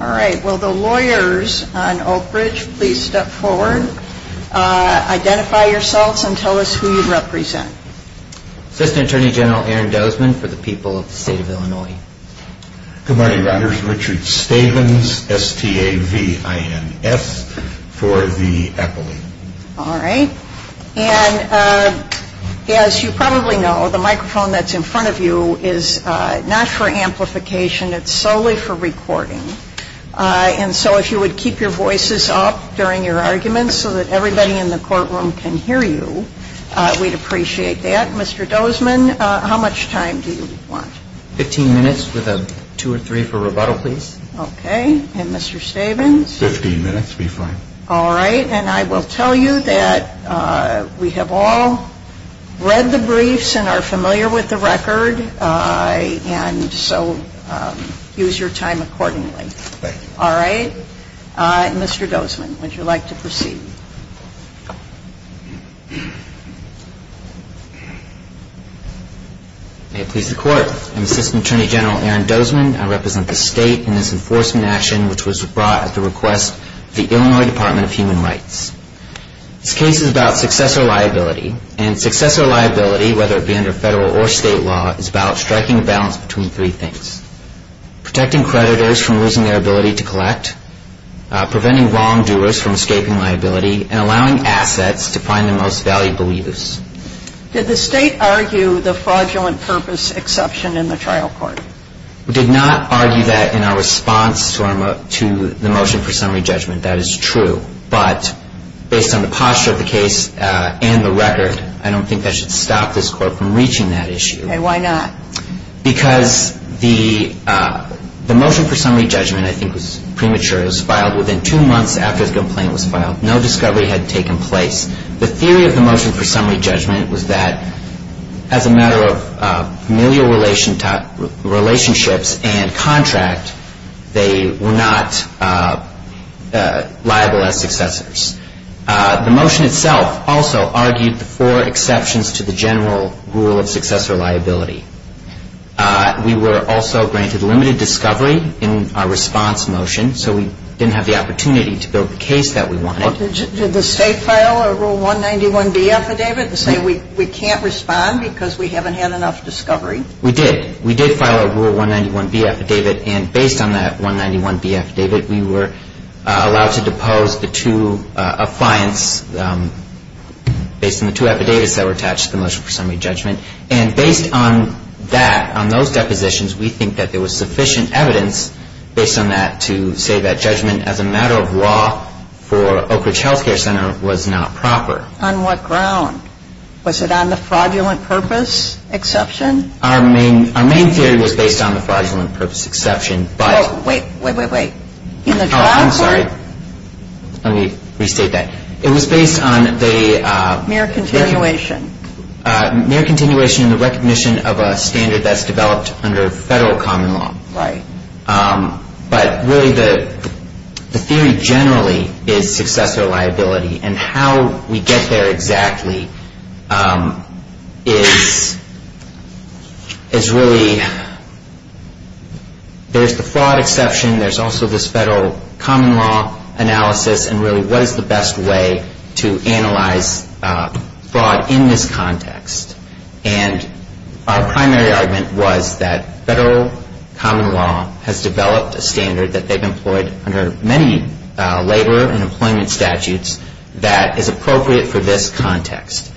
All right. Will the lawyers on Oakridge please step forward, identify yourselves, and tell us who you represent. Assistant Attorney General Aaron Dozman for the people of the state of Illinois. Good morning. My name is Richard Stowe. I'm the Assistant Attorney General for the people of the state of Illinois. David Stavins, S-T-A-V-I-N-S, for the Epoly. All right. And as you probably know, the microphone that's in front of you is not for amplification. It's solely for recording. And so if you would keep your voices up during your arguments so that everybody in the courtroom can hear you, we'd appreciate that. Mr. Dozman, how much time do you want? Okay. And Mr. Stavins? Fifteen minutes would be fine. All right. And I will tell you that we have all read the briefs and are familiar with the record, and so use your time accordingly. Thank you. All right. Mr. Dozman, would you like to proceed? May it please the Court. I'm Assistant Attorney General Aaron Dozman. I represent the state in this enforcement action which was brought at the request of the Illinois Department of Human Rights. This case is about successor liability. And successor liability, whether it be under federal or state law, is about striking a balance between three things. Protecting creditors from losing their ability to collect, preventing wrongdoers from escaping liability, and allowing assets to find the most valuable use. Did the state argue the fraudulent purpose exception in the trial court? We did not argue that in our response to the motion for summary judgment. That is true. But based on the posture of the case and the record, I don't think that should stop this Court from reaching that issue. Okay. Why not? Because the motion for summary judgment I think was premature. It was filed within two months after the complaint was filed. No discovery had taken place. The theory of the motion for summary judgment was that as a matter of familial relationships and contract, they were not liable as successors. The motion itself also argued the four exceptions to the general rule of successor liability. We were also granted limited discovery in our response motion, so we didn't have the opportunity to build the case that we wanted. Did the state file a Rule 191B affidavit to say we can't respond because we haven't had enough discovery? We did. We did file a Rule 191B affidavit. And based on that 191B affidavit, we were allowed to depose the two affiance based on the two affidavits that were attached to the motion for summary judgment. And based on that, on those depositions, we think that there was sufficient evidence based on that to say that judgment as a matter of law for Oak Ridge Health Care Center was not proper. On what ground? Was it on the fraudulent purpose exception? Our main theory was based on the fraudulent purpose exception, but... Oh, wait, wait, wait, wait. In the trial court? Oh, I'm sorry. Let me restate that. It was based on the... Mere continuation. Mere continuation in the recognition of a standard that's developed under federal common law. Right. But really the theory generally is successor liability, and how we get there exactly is really... There's the fraud exception, there's also this federal common law analysis, and really what is the best way to analyze fraud in this context? And our primary argument was that federal common law has developed a standard that they've employed under many labor and employment statutes that is appropriate for this context.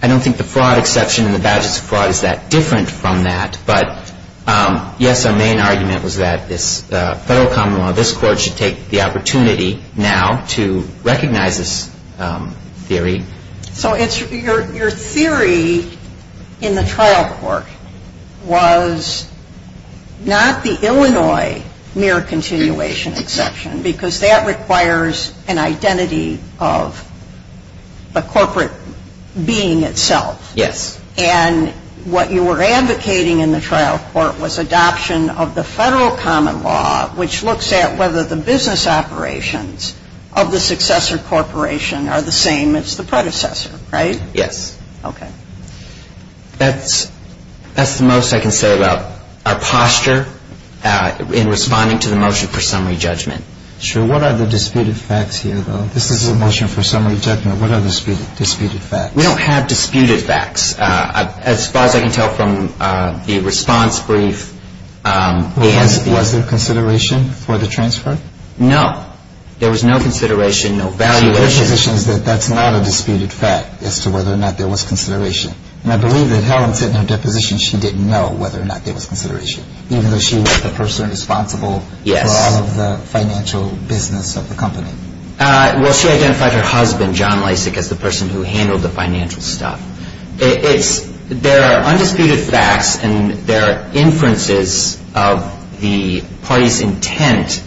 I don't think the fraud exception and the badges of fraud is that different from that, but yes, our main argument was that this federal common law, this Court should take the opportunity now to recognize this theory. So your theory in the trial court was not the Illinois mere continuation, exception, because that requires an identity of the corporate being itself. Yes. And what you were advocating in the trial court was adoption of the federal common law, which looks at whether the business operations of the successor corporation are the same as the predecessor, right? Yes. Okay. That's the most I can say about our posture in responding to the motion for summary judgment. Sure. What are the disputed facts here, though? This is a motion for summary judgment. What are the disputed facts? We don't have disputed facts. As far as I can tell from the response brief... Was there consideration for the transfer? No. There was no consideration, no valuation. Her position is that that's not a disputed fact as to whether or not there was consideration. And I believe that Helen said in her deposition she didn't know whether or not there was consideration, even though she was the person responsible for all of the financial business of the company. Well, she identified her husband, John Lysak, as the person who handled the financial stuff. There are undisputed facts, and there are inferences of the party's intent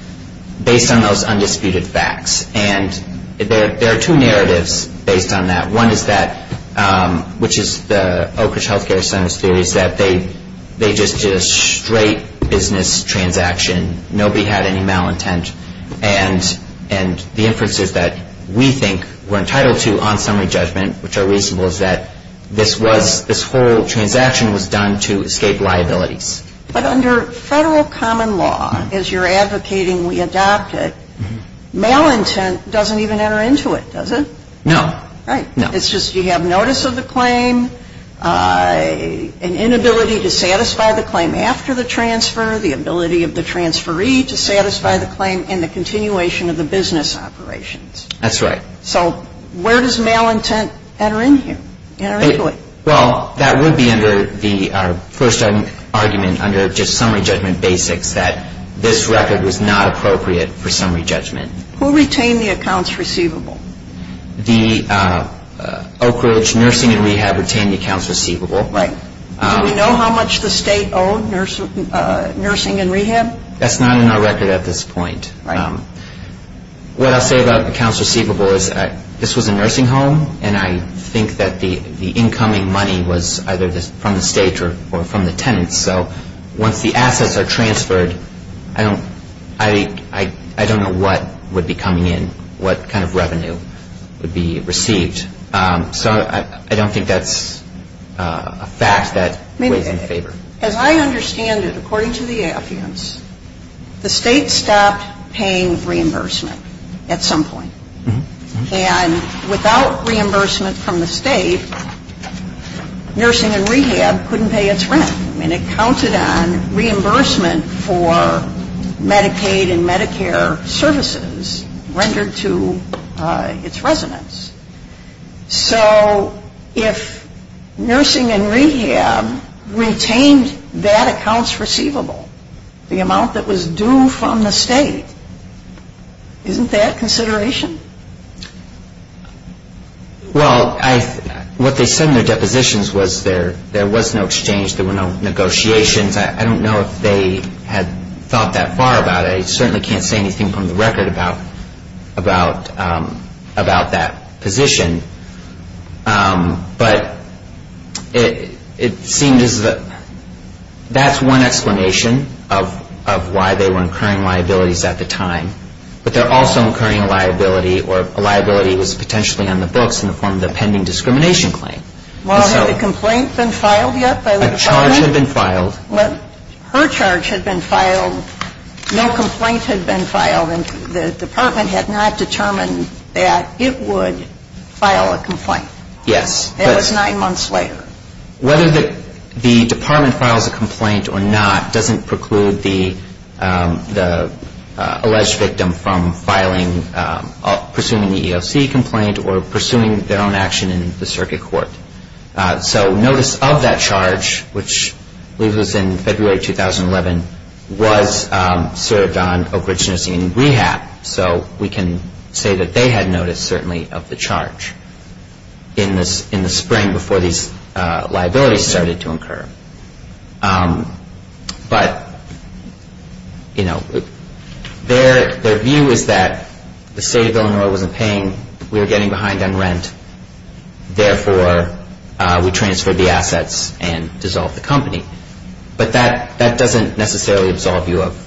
based on those undisputed facts. And there are two narratives based on that. One is that, which is the Oak Ridge Health Care Center's theory, is that they just did a straight business transaction. Nobody had any malintent. And the inferences that we think we're entitled to on summary judgment, which are reasonable, is that this whole transaction was done to escape liabilities. But under Federal common law, as you're advocating we adopt it, malintent doesn't even enter into it, does it? No. Right. It's just you have notice of the claim, an inability to satisfy the claim after the transfer, the ability of the transferee to satisfy the claim, and the continuation of the business operations. That's right. So where does malintent enter into it? Well, that would be under our first argument, under just summary judgment basics, that this record was not appropriate for summary judgment. Who retained the accounts receivable? The Oak Ridge Nursing and Rehab retained the accounts receivable. Right. Do we know how much the state owed nursing and rehab? That's not in our record at this point. Right. What I'll say about accounts receivable is this was a nursing home, and I think that the incoming money was either from the state or from the tenants. So once the assets are transferred, I don't know what would be coming in, what kind of revenue would be received. So I don't think that's a fact that weighs in favor. As I understand it, according to the affidavits, the state stopped paying reimbursement at some point. And without reimbursement from the state, nursing and rehab couldn't pay its rent. I mean, it counted on reimbursement for Medicaid and Medicare services rendered to its residents. So if nursing and rehab retained that accounts receivable, the amount that was due from the state, isn't that consideration? Well, what they said in their depositions was there was no exchange, there were no negotiations. I don't know if they had thought that far about it. I certainly can't say anything from the record about that position. But it seemed as though that's one explanation of why they were incurring liabilities at the time. But they're also incurring a liability or a liability was potentially on the books in the form of the pending discrimination claim. Well, had a complaint been filed yet by the department? A charge had been filed. Well, her charge had been filed. No complaint had been filed, and the department had not determined that it would file a complaint. Yes. It was nine months later. Whether the department files a complaint or not doesn't preclude the alleged victim from filing, pursuing the EEOC complaint or pursuing their own action in the circuit court. So notice of that charge, which I believe was in February 2011, was served on Oak Ridge Nursing and Rehab. So we can say that they had notice, certainly, of the charge in the spring before these liabilities started to incur. But, you know, their view is that the state of Illinois wasn't paying, we were getting behind on rent, therefore we transferred the assets and dissolved the company. But that doesn't necessarily absolve you of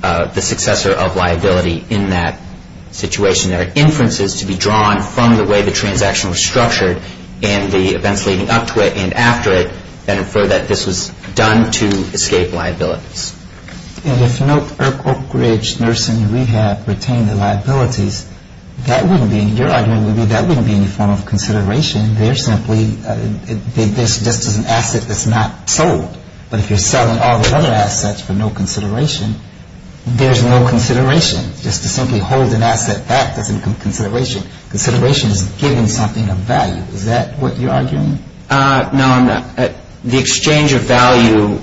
the successor of liability in that situation. There are inferences to be drawn from the way the transaction was structured and the events leading up to it and after it that infer that this was done to escape liabilities. And if Oak Ridge Nursing and Rehab retained the liabilities, that wouldn't be, I mean, your argument would be that wouldn't be any form of consideration. They're simply, this is just an asset that's not sold. But if you're selling all the other assets for no consideration, there's no consideration. Just to simply hold an asset back doesn't become consideration. Consideration is giving something of value. Is that what you're arguing? No, I'm not. The exchange of value,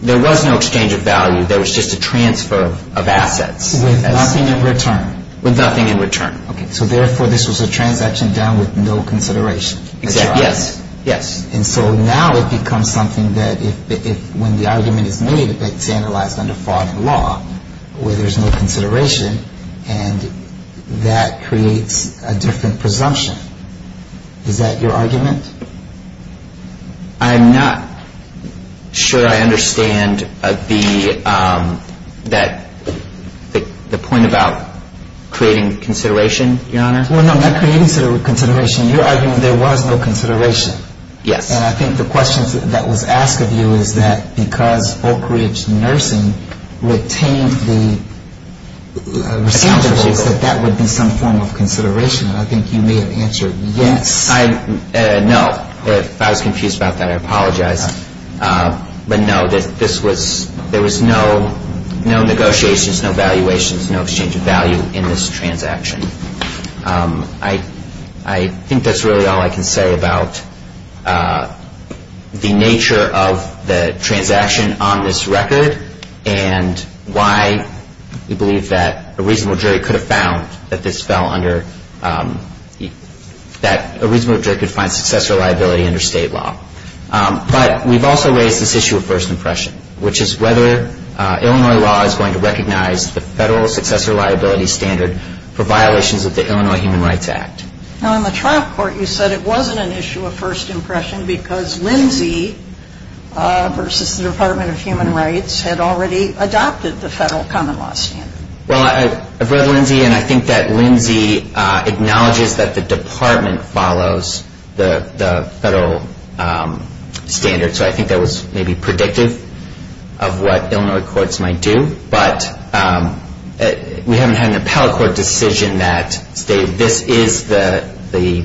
there was no exchange of value. There was just a transfer of assets. With nothing in return. Okay, so therefore this was a transaction done with no consideration. Exactly, yes. And so now it becomes something that when the argument is made, it's analyzed under fraud and law where there's no consideration and that creates a different presumption. Is that your argument? I'm not sure I understand the point about creating consideration, Your Honor. Well, no, not creating consideration. You're arguing there was no consideration. Yes. And I think the question that was asked of you is that because Oak Ridge Nursing retained the liabilities, that that would be some form of consideration. And I think you may have answered yes. No. If I was confused about that, I apologize. But no, there was no negotiations, no valuations, no exchange of value in this transaction. I think that's really all I can say about the nature of the transaction on this record and why we believe that a reasonable jury could find successor liability under state law. But we've also raised this issue of first impression, which is whether Illinois law is going to recognize the federal successor liability standard for violations of the Illinois Human Rights Act. Now, in the trial court, you said it wasn't an issue of first impression because Lindsay versus the Department of Human Rights had already adopted the federal common law standard. Well, I've read Lindsay, and I think that Lindsay acknowledges that the department follows the federal standard. So I think that was maybe predictive of what Illinois courts might do. But we haven't had an appellate court decision that this is the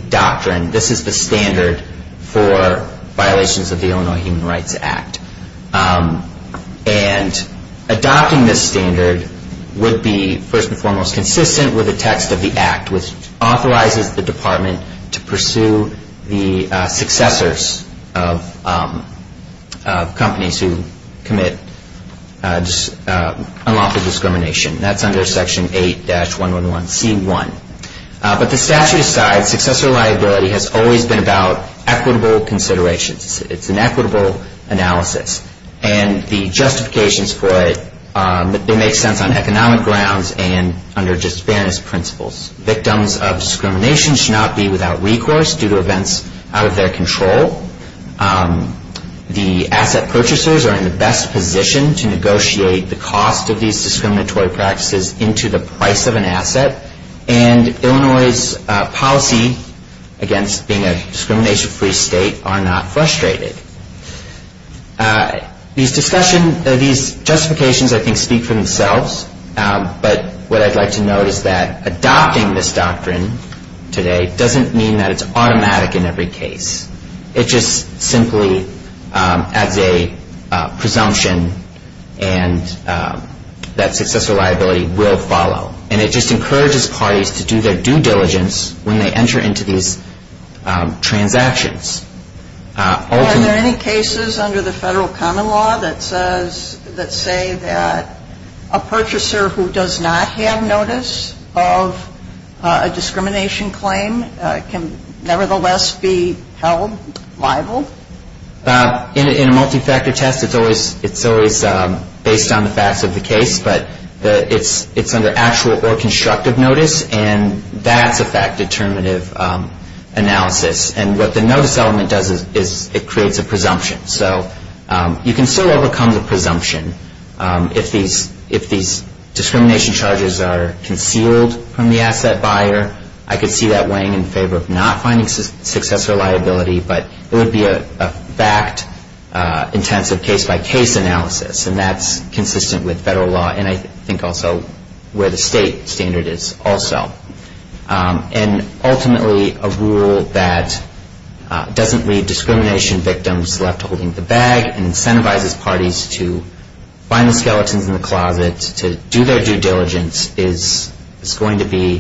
doctrine, this is the standard for violations of the Illinois Human Rights Act. And adopting this standard would be, first and foremost, consistent with the text of the act, which authorizes the department to pursue the successors of companies who commit unlawful discrimination. That's under Section 8-111C1. But the statute asides, successor liability has always been about equitable considerations. It's an equitable analysis. And the justifications for it, they make sense on economic grounds and under just fairness principles. Victims of discrimination should not be without recourse due to events out of their control. The asset purchasers are in the best position to negotiate the cost of these discriminatory practices into the price of an asset. And Illinois' policy against being a discrimination-free state are not frustrated. These justifications, I think, speak for themselves. But what I'd like to note is that adopting this doctrine today doesn't mean that it's automatic in every case. It just simply adds a presumption that successor liability will follow. And it just encourages parties to do their due diligence when they enter into these transactions. Are there any cases under the federal common law that say that a purchaser who does not have notice of a discrimination claim can nevertheless be held liable? In a multi-factor test, it's always based on the facts of the case. But it's under actual or constructive notice, and that's a fact-determinative analysis. And what the notice element does is it creates a presumption. So you can still overcome the presumption if these discrimination charges are concealed from the asset buyer. I could see that weighing in favor of not finding successor liability, but it would be a fact-intensive case-by-case analysis, and that's consistent with federal law and I think also where the state standard is also. And ultimately, a rule that doesn't leave discrimination victims left holding the bag and incentivizes parties to find the skeletons in the closet to do their due diligence is going to be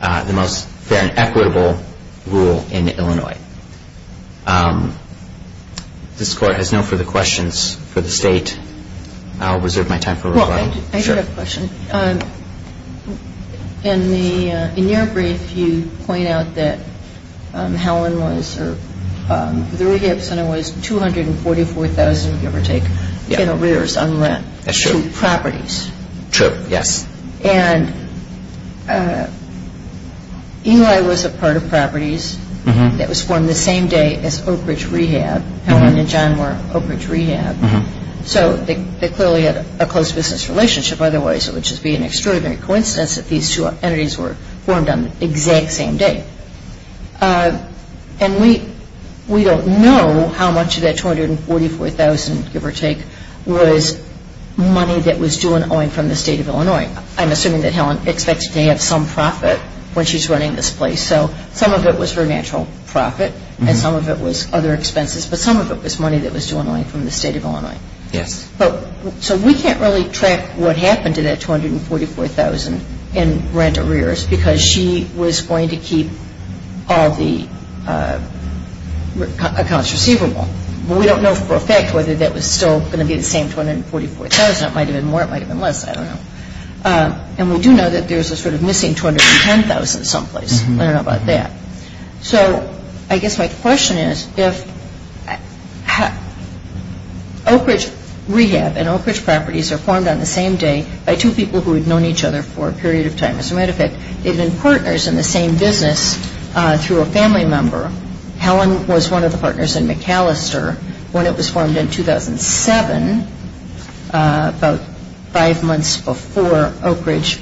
the most fair and equitable rule in Illinois. This Court has no further questions for the State. I'll reserve my time for rebuttal. Well, I do have a question. In your brief, you point out that Helen was or the Rehab Center was $244,000, give or take, in arrears on rent to properties. True, yes. And Eli was a part of properties that was formed the same day as Oak Ridge Rehab. Helen and John were Oak Ridge Rehab. So they clearly had a close business relationship. Otherwise, it would just be an extraordinary coincidence that these two entities were formed on the exact same day. And we don't know how much of that $244,000, give or take, was money that was due and owing from the State of Illinois. I'm assuming that Helen expects to have some profit when she's running this place. So some of it was her natural profit and some of it was other expenses, but some of it was money that was due and owing from the State of Illinois. Yes. So we can't really track what happened to that $244,000 in rent arrears because she was going to keep all the accounts receivable. But we don't know for a fact whether that was still going to be the same $244,000. It might have been more. It might have been less. I don't know. And we do know that there's a sort of missing $210,000 someplace. I don't know about that. So I guess my question is if Oak Ridge Rehab and Oak Ridge Properties are formed on the same day by two people who had known each other for a period of time. As a matter of fact, they've been partners in the same business through a family member. Helen was one of the partners in McAllister when it was formed in 2007, about five months before Oak Ridge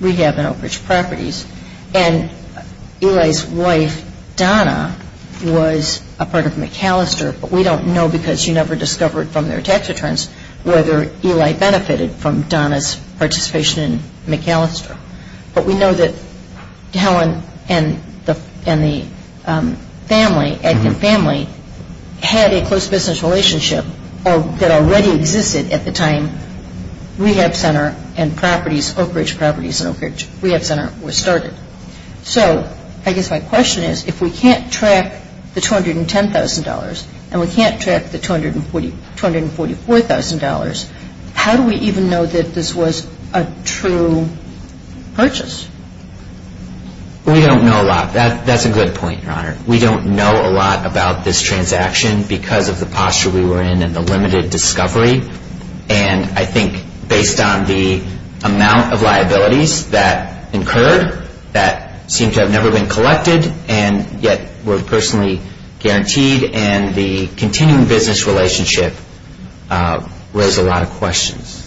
Rehab and Oak Ridge Properties. And Eli's wife, Donna, was a part of McAllister, but we don't know because she never discovered from their tax returns whether Eli benefited from Donna's participation in McAllister. But we know that Helen and the family had a close business relationship that already existed at the time Rehab Center Oak Ridge Properties and Oak Ridge Rehab Center were started. So I guess my question is if we can't track the $210,000 and we can't track the $244,000, how do we even know that this was a true purchase? We don't know a lot. That's a good point, Your Honor. We don't know a lot about this transaction because of the posture we were in and the limited discovery. And I think based on the amount of liabilities that incurred that seem to have never been collected and yet were personally guaranteed and the continuing business relationship raise a lot of questions.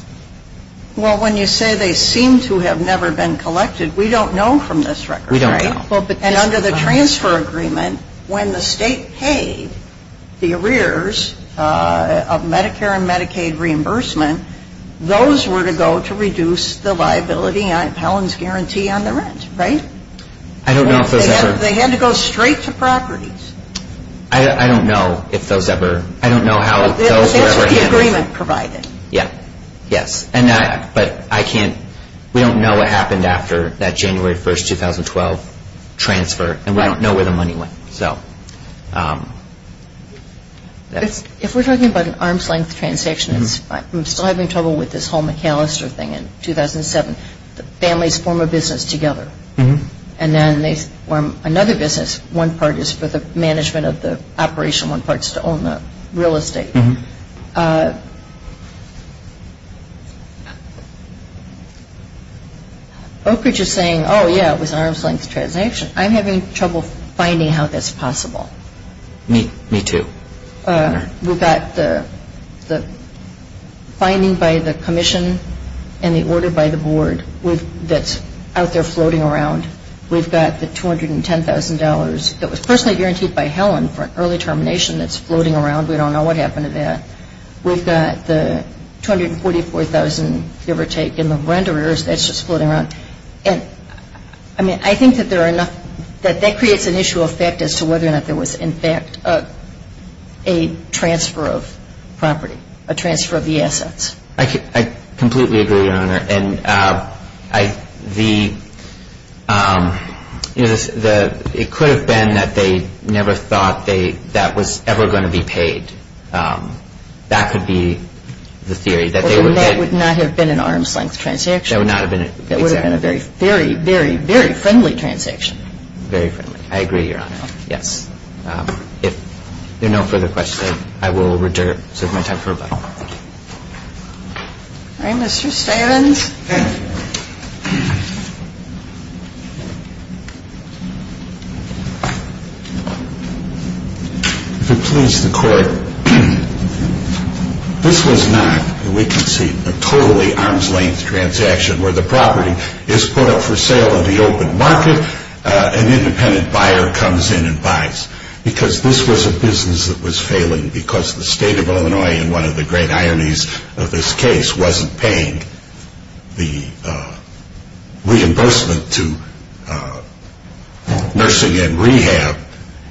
Well, when you say they seem to have never been collected, we don't know from this record. We don't know. And under the transfer agreement, when the state paid the arrears of Medicare and Medicaid reimbursement, those were to go to reduce the liability on Helen's guarantee on the rent, right? I don't know if those ever. They had to go straight to properties. I don't know if those ever. I don't know how those were ever handled. That's what the agreement provided. Yes, but we don't know what happened after that January 1, 2012 transfer, and we don't know where the money went. If we're talking about an arm's-length transaction, I'm still having trouble with this whole McAllister thing in 2007. Families form a business together, and then they form another business. One part is for the management of the operation. One part is to own the real estate. Oakridge is saying, oh, yeah, it was an arm's-length transaction. I'm having trouble finding how that's possible. Me too. We've got the finding by the commission and the order by the board that's out there floating around. We've got the $210,000 that was personally guaranteed by Helen for an early termination that's floating around. We don't know what happened to that. We've got the $244,000, give or take, in the rent arrears that's just floating around. And, I mean, I think that there are enough that that creates an issue of fact as to whether or not there was, in fact, a transfer of property, a transfer of the assets. I completely agree, Your Honor. And the, you know, it could have been that they never thought that was ever going to be paid. That could be the theory, that they would have been. Well, then that would not have been an arm's-length transaction. That would not have been. That would have been a very, very, very, very friendly transaction. Very friendly. I agree, Your Honor. Yes. If there are no further questions, then I will reserve my time for rebuttal. All right. Mr. Stevens. If it please the Court, this was not, we can see, a totally arm's-length transaction where the property is put up for sale in the open market. An independent buyer comes in and buys. Because this was a business that was failing because the State of Illinois, in one of the great ironies of this case, wasn't paying the reimbursement to nursing and rehab.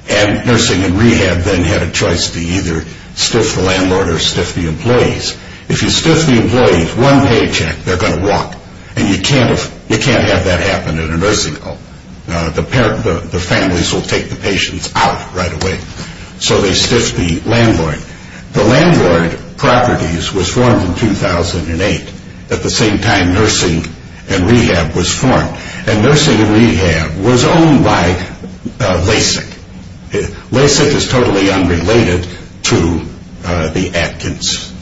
And nursing and rehab then had a choice to either stiff the landlord or stiff the employees. If you stiff the employees, one paycheck, they're going to walk. And you can't have that happen in a nursing home. The families will take the patients out right away. So they stiff the landlord. The landlord properties was formed in 2008. At the same time, nursing and rehab was formed. And nursing and rehab was owned by LASIC. LASIC is totally unrelated to the Atkins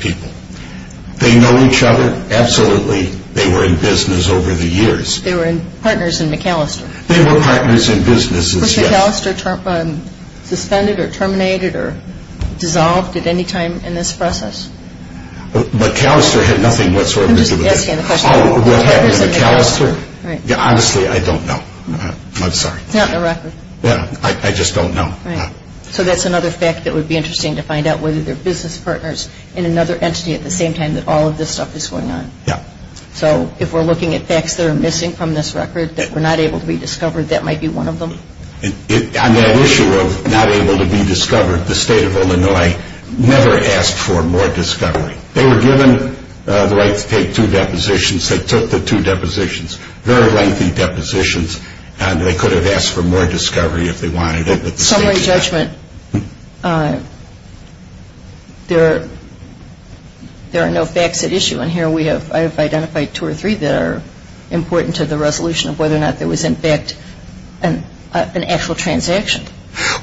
people. They know each other. Absolutely, they were in business over the years. They were partners in McAllister. They were partners in businesses, yes. Was McAllister suspended or terminated or dissolved at any time in this process? McAllister had nothing whatsoever to do with it. I'm just asking the question. What happened to McAllister? Honestly, I don't know. I'm sorry. It's not in the record. I just don't know. So that's another fact that would be interesting to find out, whether they're business partners in another entity at the same time that all of this stuff is going on. Yeah. So if we're looking at facts that are missing from this record that were not able to be discovered, that might be one of them. On that issue of not able to be discovered, the state of Illinois never asked for more discovery. They were given the right to take two depositions. They took the two depositions, very lengthy depositions, and they could have asked for more discovery if they wanted it. Summary judgment, there are no facts at issue. And here I have identified two or three that are important to the resolution of whether or not there was, in fact, an actual transaction.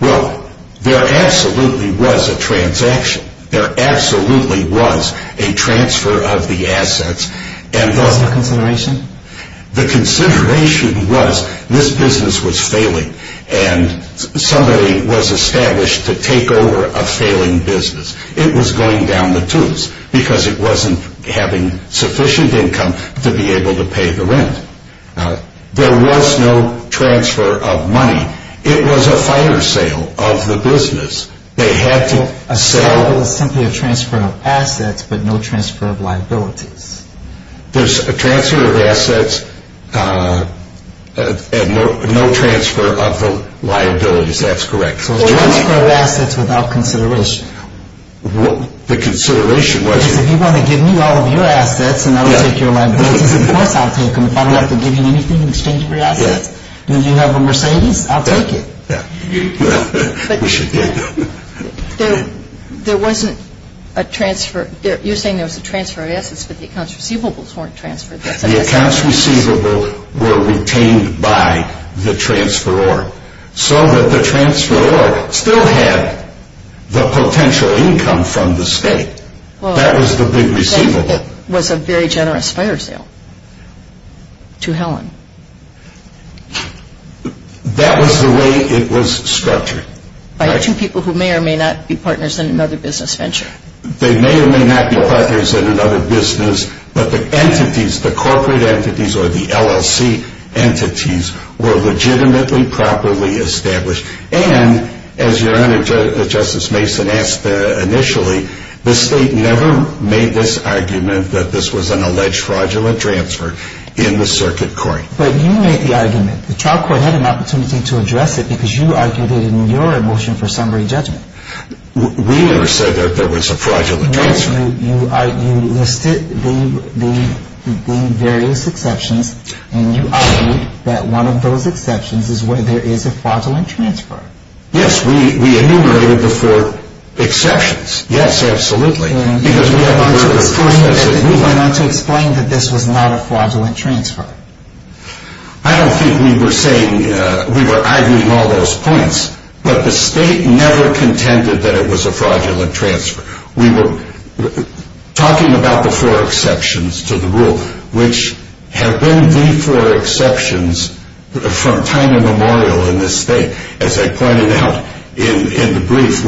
Well, there absolutely was a transaction. There absolutely was a transfer of the assets. Was there consideration? The consideration was this business was failing, and somebody was established to take over a failing business. It was going down the tubes because it wasn't having sufficient income to be able to pay the rent. There was no transfer of money. It was a fire sale of the business. They had to sell. A sale was simply a transfer of assets but no transfer of liabilities. There's a transfer of assets and no transfer of the liabilities. That's correct. So it's transfer of assets without consideration. The consideration was? Because if you want to give me all of your assets and I'll take your liabilities, of course I'll take them. If I don't have to give you anything in exchange for your assets, and you have a Mercedes, I'll take it. We should get going. There wasn't a transfer. You're saying there was a transfer of assets, but the accounts receivables weren't transferred. The accounts receivable were retained by the transferor so that the transferor still had the potential income from the state. That was the big receivable. It was a very generous fire sale to Helen. That was the way it was structured. By two people who may or may not be partners in another business venture. They may or may not be partners in another business, but the entities, the corporate entities or the LLC entities, were legitimately properly established. And, as Your Honor, Justice Mason asked initially, the state never made this argument that this was an alleged fraudulent transfer in the circuit court. But you made the argument. The trial court had an opportunity to address it because you argued it in your motion for summary judgment. We never said that there was a fraudulent transfer. You listed the various exceptions and you argued that one of those exceptions is where there is a fraudulent transfer. Yes, we enumerated the four exceptions. Yes, absolutely. Because we went on to explain that this was not a fraudulent transfer. I don't think we were saying, we were arguing all those points, but the state never contended that it was a fraudulent transfer. We were talking about the four exceptions to the rule, which have been the four exceptions from time immemorial in this state. As I pointed out in the brief,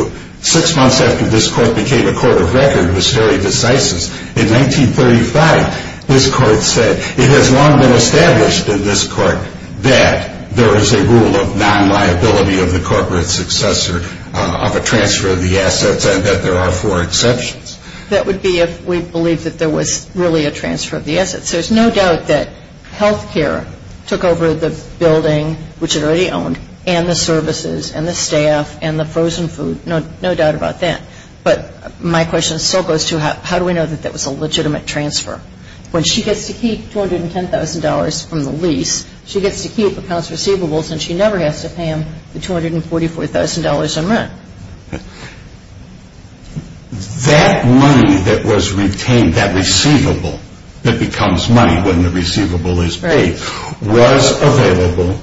six months after this court became a court of record was very decisive. In 1935, this court said, it has long been established in this court that there is a rule of non-liability of the corporate successor of a transfer of the assets and that there are four exceptions. That would be if we believed that there was really a transfer of the assets. There's no doubt that health care took over the building, which it already owned, and the services and the staff and the frozen food. No doubt about that. But my question still goes to how do we know that that was a legitimate transfer? When she gets to keep $210,000 from the lease, she gets to keep accounts receivables and she never has to pay him the $244,000 in rent. That money that was retained, that receivable that becomes money when the receivable is paid, was available,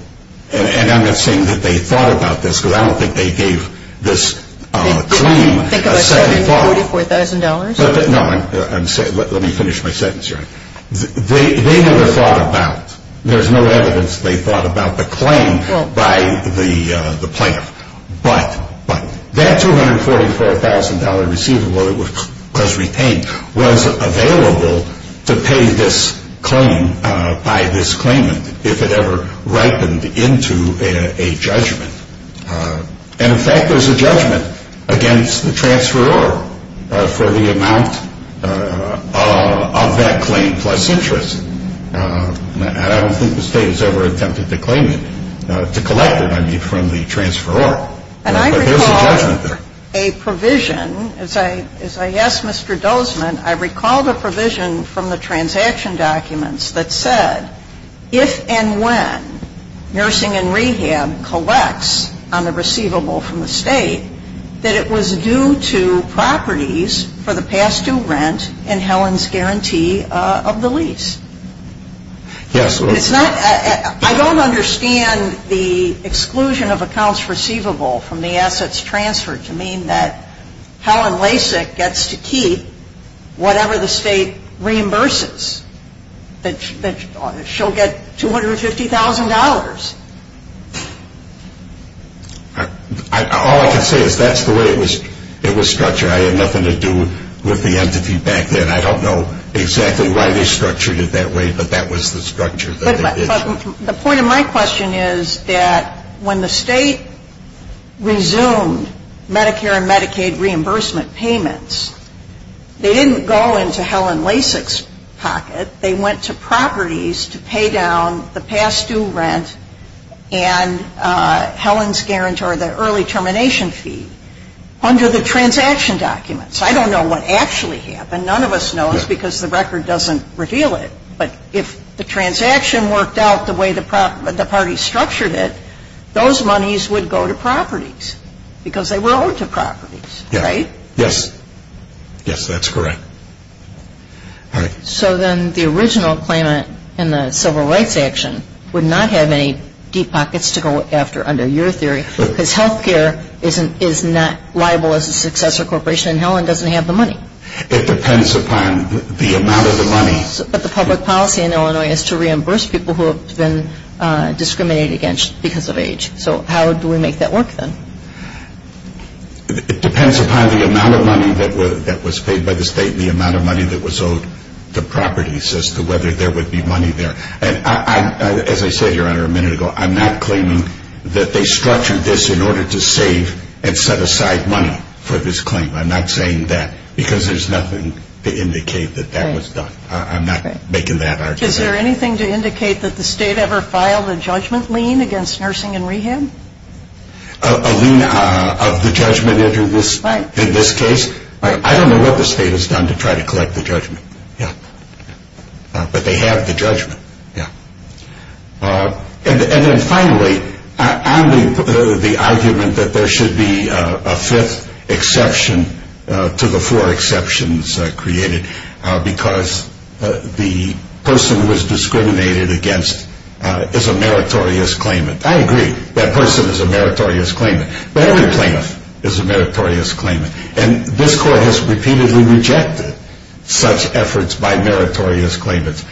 and I'm not saying that they thought about this, because I don't think they gave this claim a second thought. Think about starting with $44,000? No, let me finish my sentence. They never thought about, there's no evidence they thought about the claim by the plaintiff. But that $244,000 receivable that was retained was available to pay this claim by this claimant if it ever ripened into a judgment. And, in fact, there's a judgment against the transferor for the amount of that claim plus interest. I don't think the state has ever attempted to claim it, to collect it, I mean, from the transferor. But there's a judgment there. And I recall a provision, as I asked Mr. Dozman, I recall the provision from the transaction documents that said, if and when nursing and rehab collects on the receivable from the state, that it was due to properties for the past due rent and Helen's guarantee of the lease. Yes. I don't understand the exclusion of accounts receivable from the assets transferred to mean that Helen Lasik gets to keep whatever the state reimburses, that she'll get $250,000. All I can say is that's the way it was structured. I had nothing to do with the entity back then. I don't know exactly why they structured it that way, but that was the structure. But the point of my question is that when the state resumed Medicare and Medicaid reimbursement payments, they didn't go into Helen Lasik's pocket. They went to properties to pay down the past due rent and Helen's guarantee or the early termination fee under the transaction documents. I don't know what actually happened. None of us knows because the record doesn't reveal it. But if the transaction worked out the way the party structured it, those monies would go to properties because they were owed to properties, right? Yes. Yes, that's correct. All right. So then the original claimant in the civil rights action would not have any deep pockets to go after under your theory because health care is not liable as a successor corporation and Helen doesn't have the money. It depends upon the amount of the money. But the public policy in Illinois is to reimburse people who have been discriminated against because of age. So how do we make that work then? It depends upon the amount of money that was paid by the state and the amount of money that was owed to properties as to whether there would be money there. And as I said, Your Honor, a minute ago, I'm not claiming that they structured this in order to save and set aside money for this claim. I'm not saying that because there's nothing to indicate that that was done. I'm not making that argument. Is there anything to indicate that the state ever filed a judgment lien against nursing and rehab? A lien of the judgment in this case? Right. I don't know what the state has done to try to collect the judgment. Yeah. But they have the judgment. Yeah. And then finally, I'm the argument that there should be a fifth exception to the four exceptions created because the person who was discriminated against is a meritorious claimant. I agree. That person is a meritorious claimant. But every plaintiff is a meritorious claimant. And this Court has repeatedly rejected such efforts by meritorious claimants.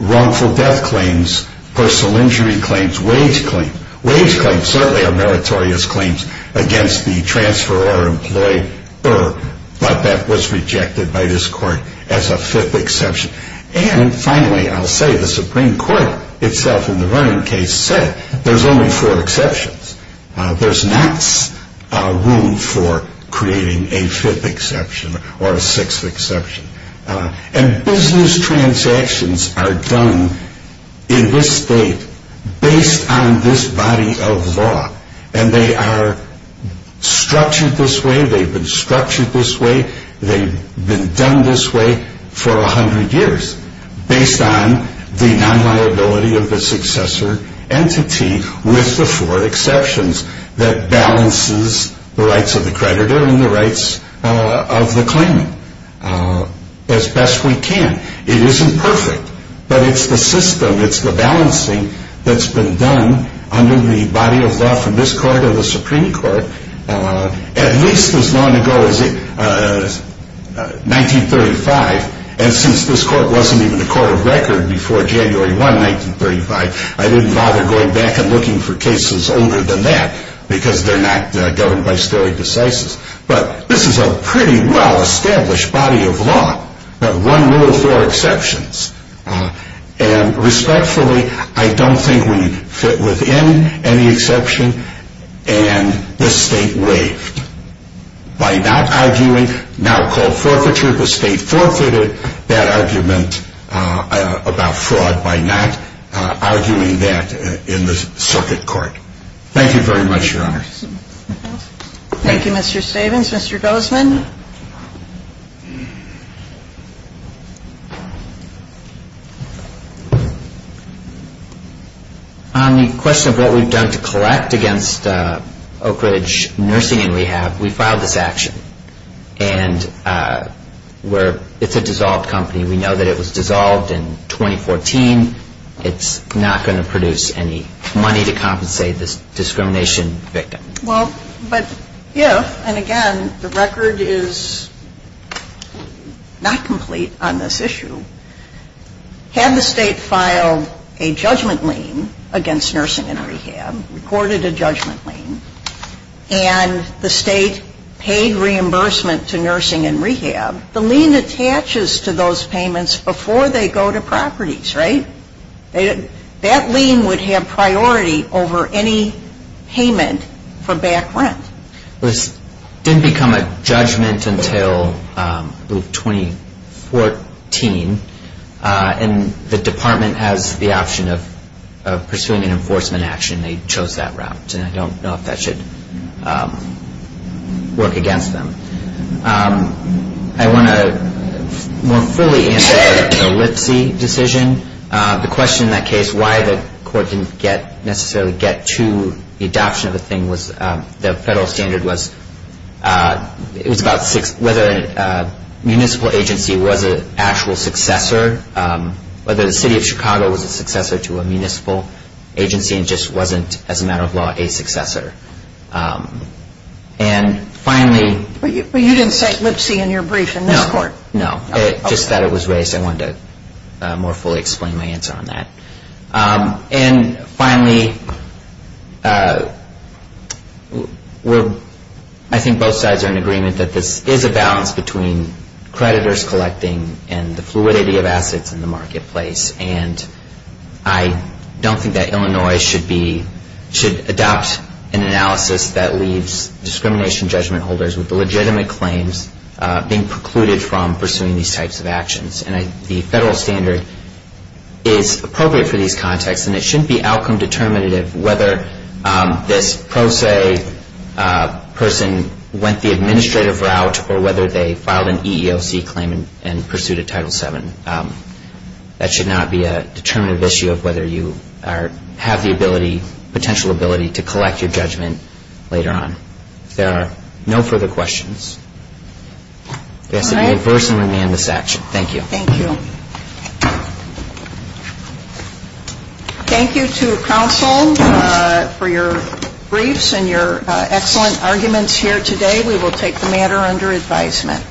Wrongful death claims, personal injury claims, wage claims. Wage claims certainly are meritorious claims against the transfer or employer, but that was rejected by this Court as a fifth exception. And finally, I'll say the Supreme Court itself in the Vernon case said there's only four exceptions. There's not room for creating a fifth exception or a sixth exception. And business transactions are done in this state based on this body of law. And they are structured this way. They've been structured this way. They've been done this way for 100 years based on the non-liability of the successor entity with the four exceptions that balances the rights of the creditor and the rights of the claimant as best we can. It isn't perfect, but it's the system, it's the balancing that's been done under the body of law from this Court or the Supreme Court at least as long ago as 1935. And since this Court wasn't even a court of record before January 1, 1935, I didn't bother going back and looking for cases older than that because they're not governed by stare decisis. But this is a pretty well-established body of law, but one rule with four exceptions. And respectfully, I don't think we fit within any exception, and this state waived. By not arguing, now called forfeiture, the state forfeited that argument about fraud by not arguing that in the circuit court. Thank you very much, Your Honor. Thank you, Mr. Stavins. Mr. Gozeman. On the question of what we've done to collect against Oak Ridge Nursing and Rehab, we filed this action. And it's a dissolved company. We know that it was dissolved in 2014. It's not going to produce any money to compensate this discrimination victim. Well, but if, and again, the record is not complete on this issue, had the state filed a judgment lien against Nursing and Rehab, recorded a judgment lien, and the state paid reimbursement to Nursing and Rehab, the lien attaches to those payments before they go to properties, right? That lien would have priority over any payment for back rent. This didn't become a judgment until 2014, and the department has the option of pursuing an enforcement action. They chose that route, and I don't know if that should work against them. I want to more fully answer the Lipsey decision. The question in that case, why the court didn't necessarily get to the adoption of the thing, the federal standard was whether a municipal agency was an actual successor, whether the city of Chicago was a successor to a municipal agency and just wasn't, as a matter of law, a successor. And finally... But you didn't say Lipsey in your brief in this court. No, no, just that it was raised. I wanted to more fully explain my answer on that. And finally, I think both sides are in agreement that this is a balance between creditors collecting and the fluidity of assets in the marketplace, and I don't think that Illinois should adopt an analysis that leaves discrimination judgment holders with the legitimate claims being precluded from pursuing these types of actions. And the federal standard is appropriate for these contexts, and it shouldn't be outcome determinative whether this pro se person went the administrative route or whether they filed an EEOC claim and pursued a Title VII. And that should not be a determinative issue of whether you have the ability, potential ability to collect your judgment later on. If there are no further questions, I ask that you adverse and remand this action. Thank you. Thank you. Thank you to counsel for your briefs and your excellent arguments here today. We will take the matter under advisement.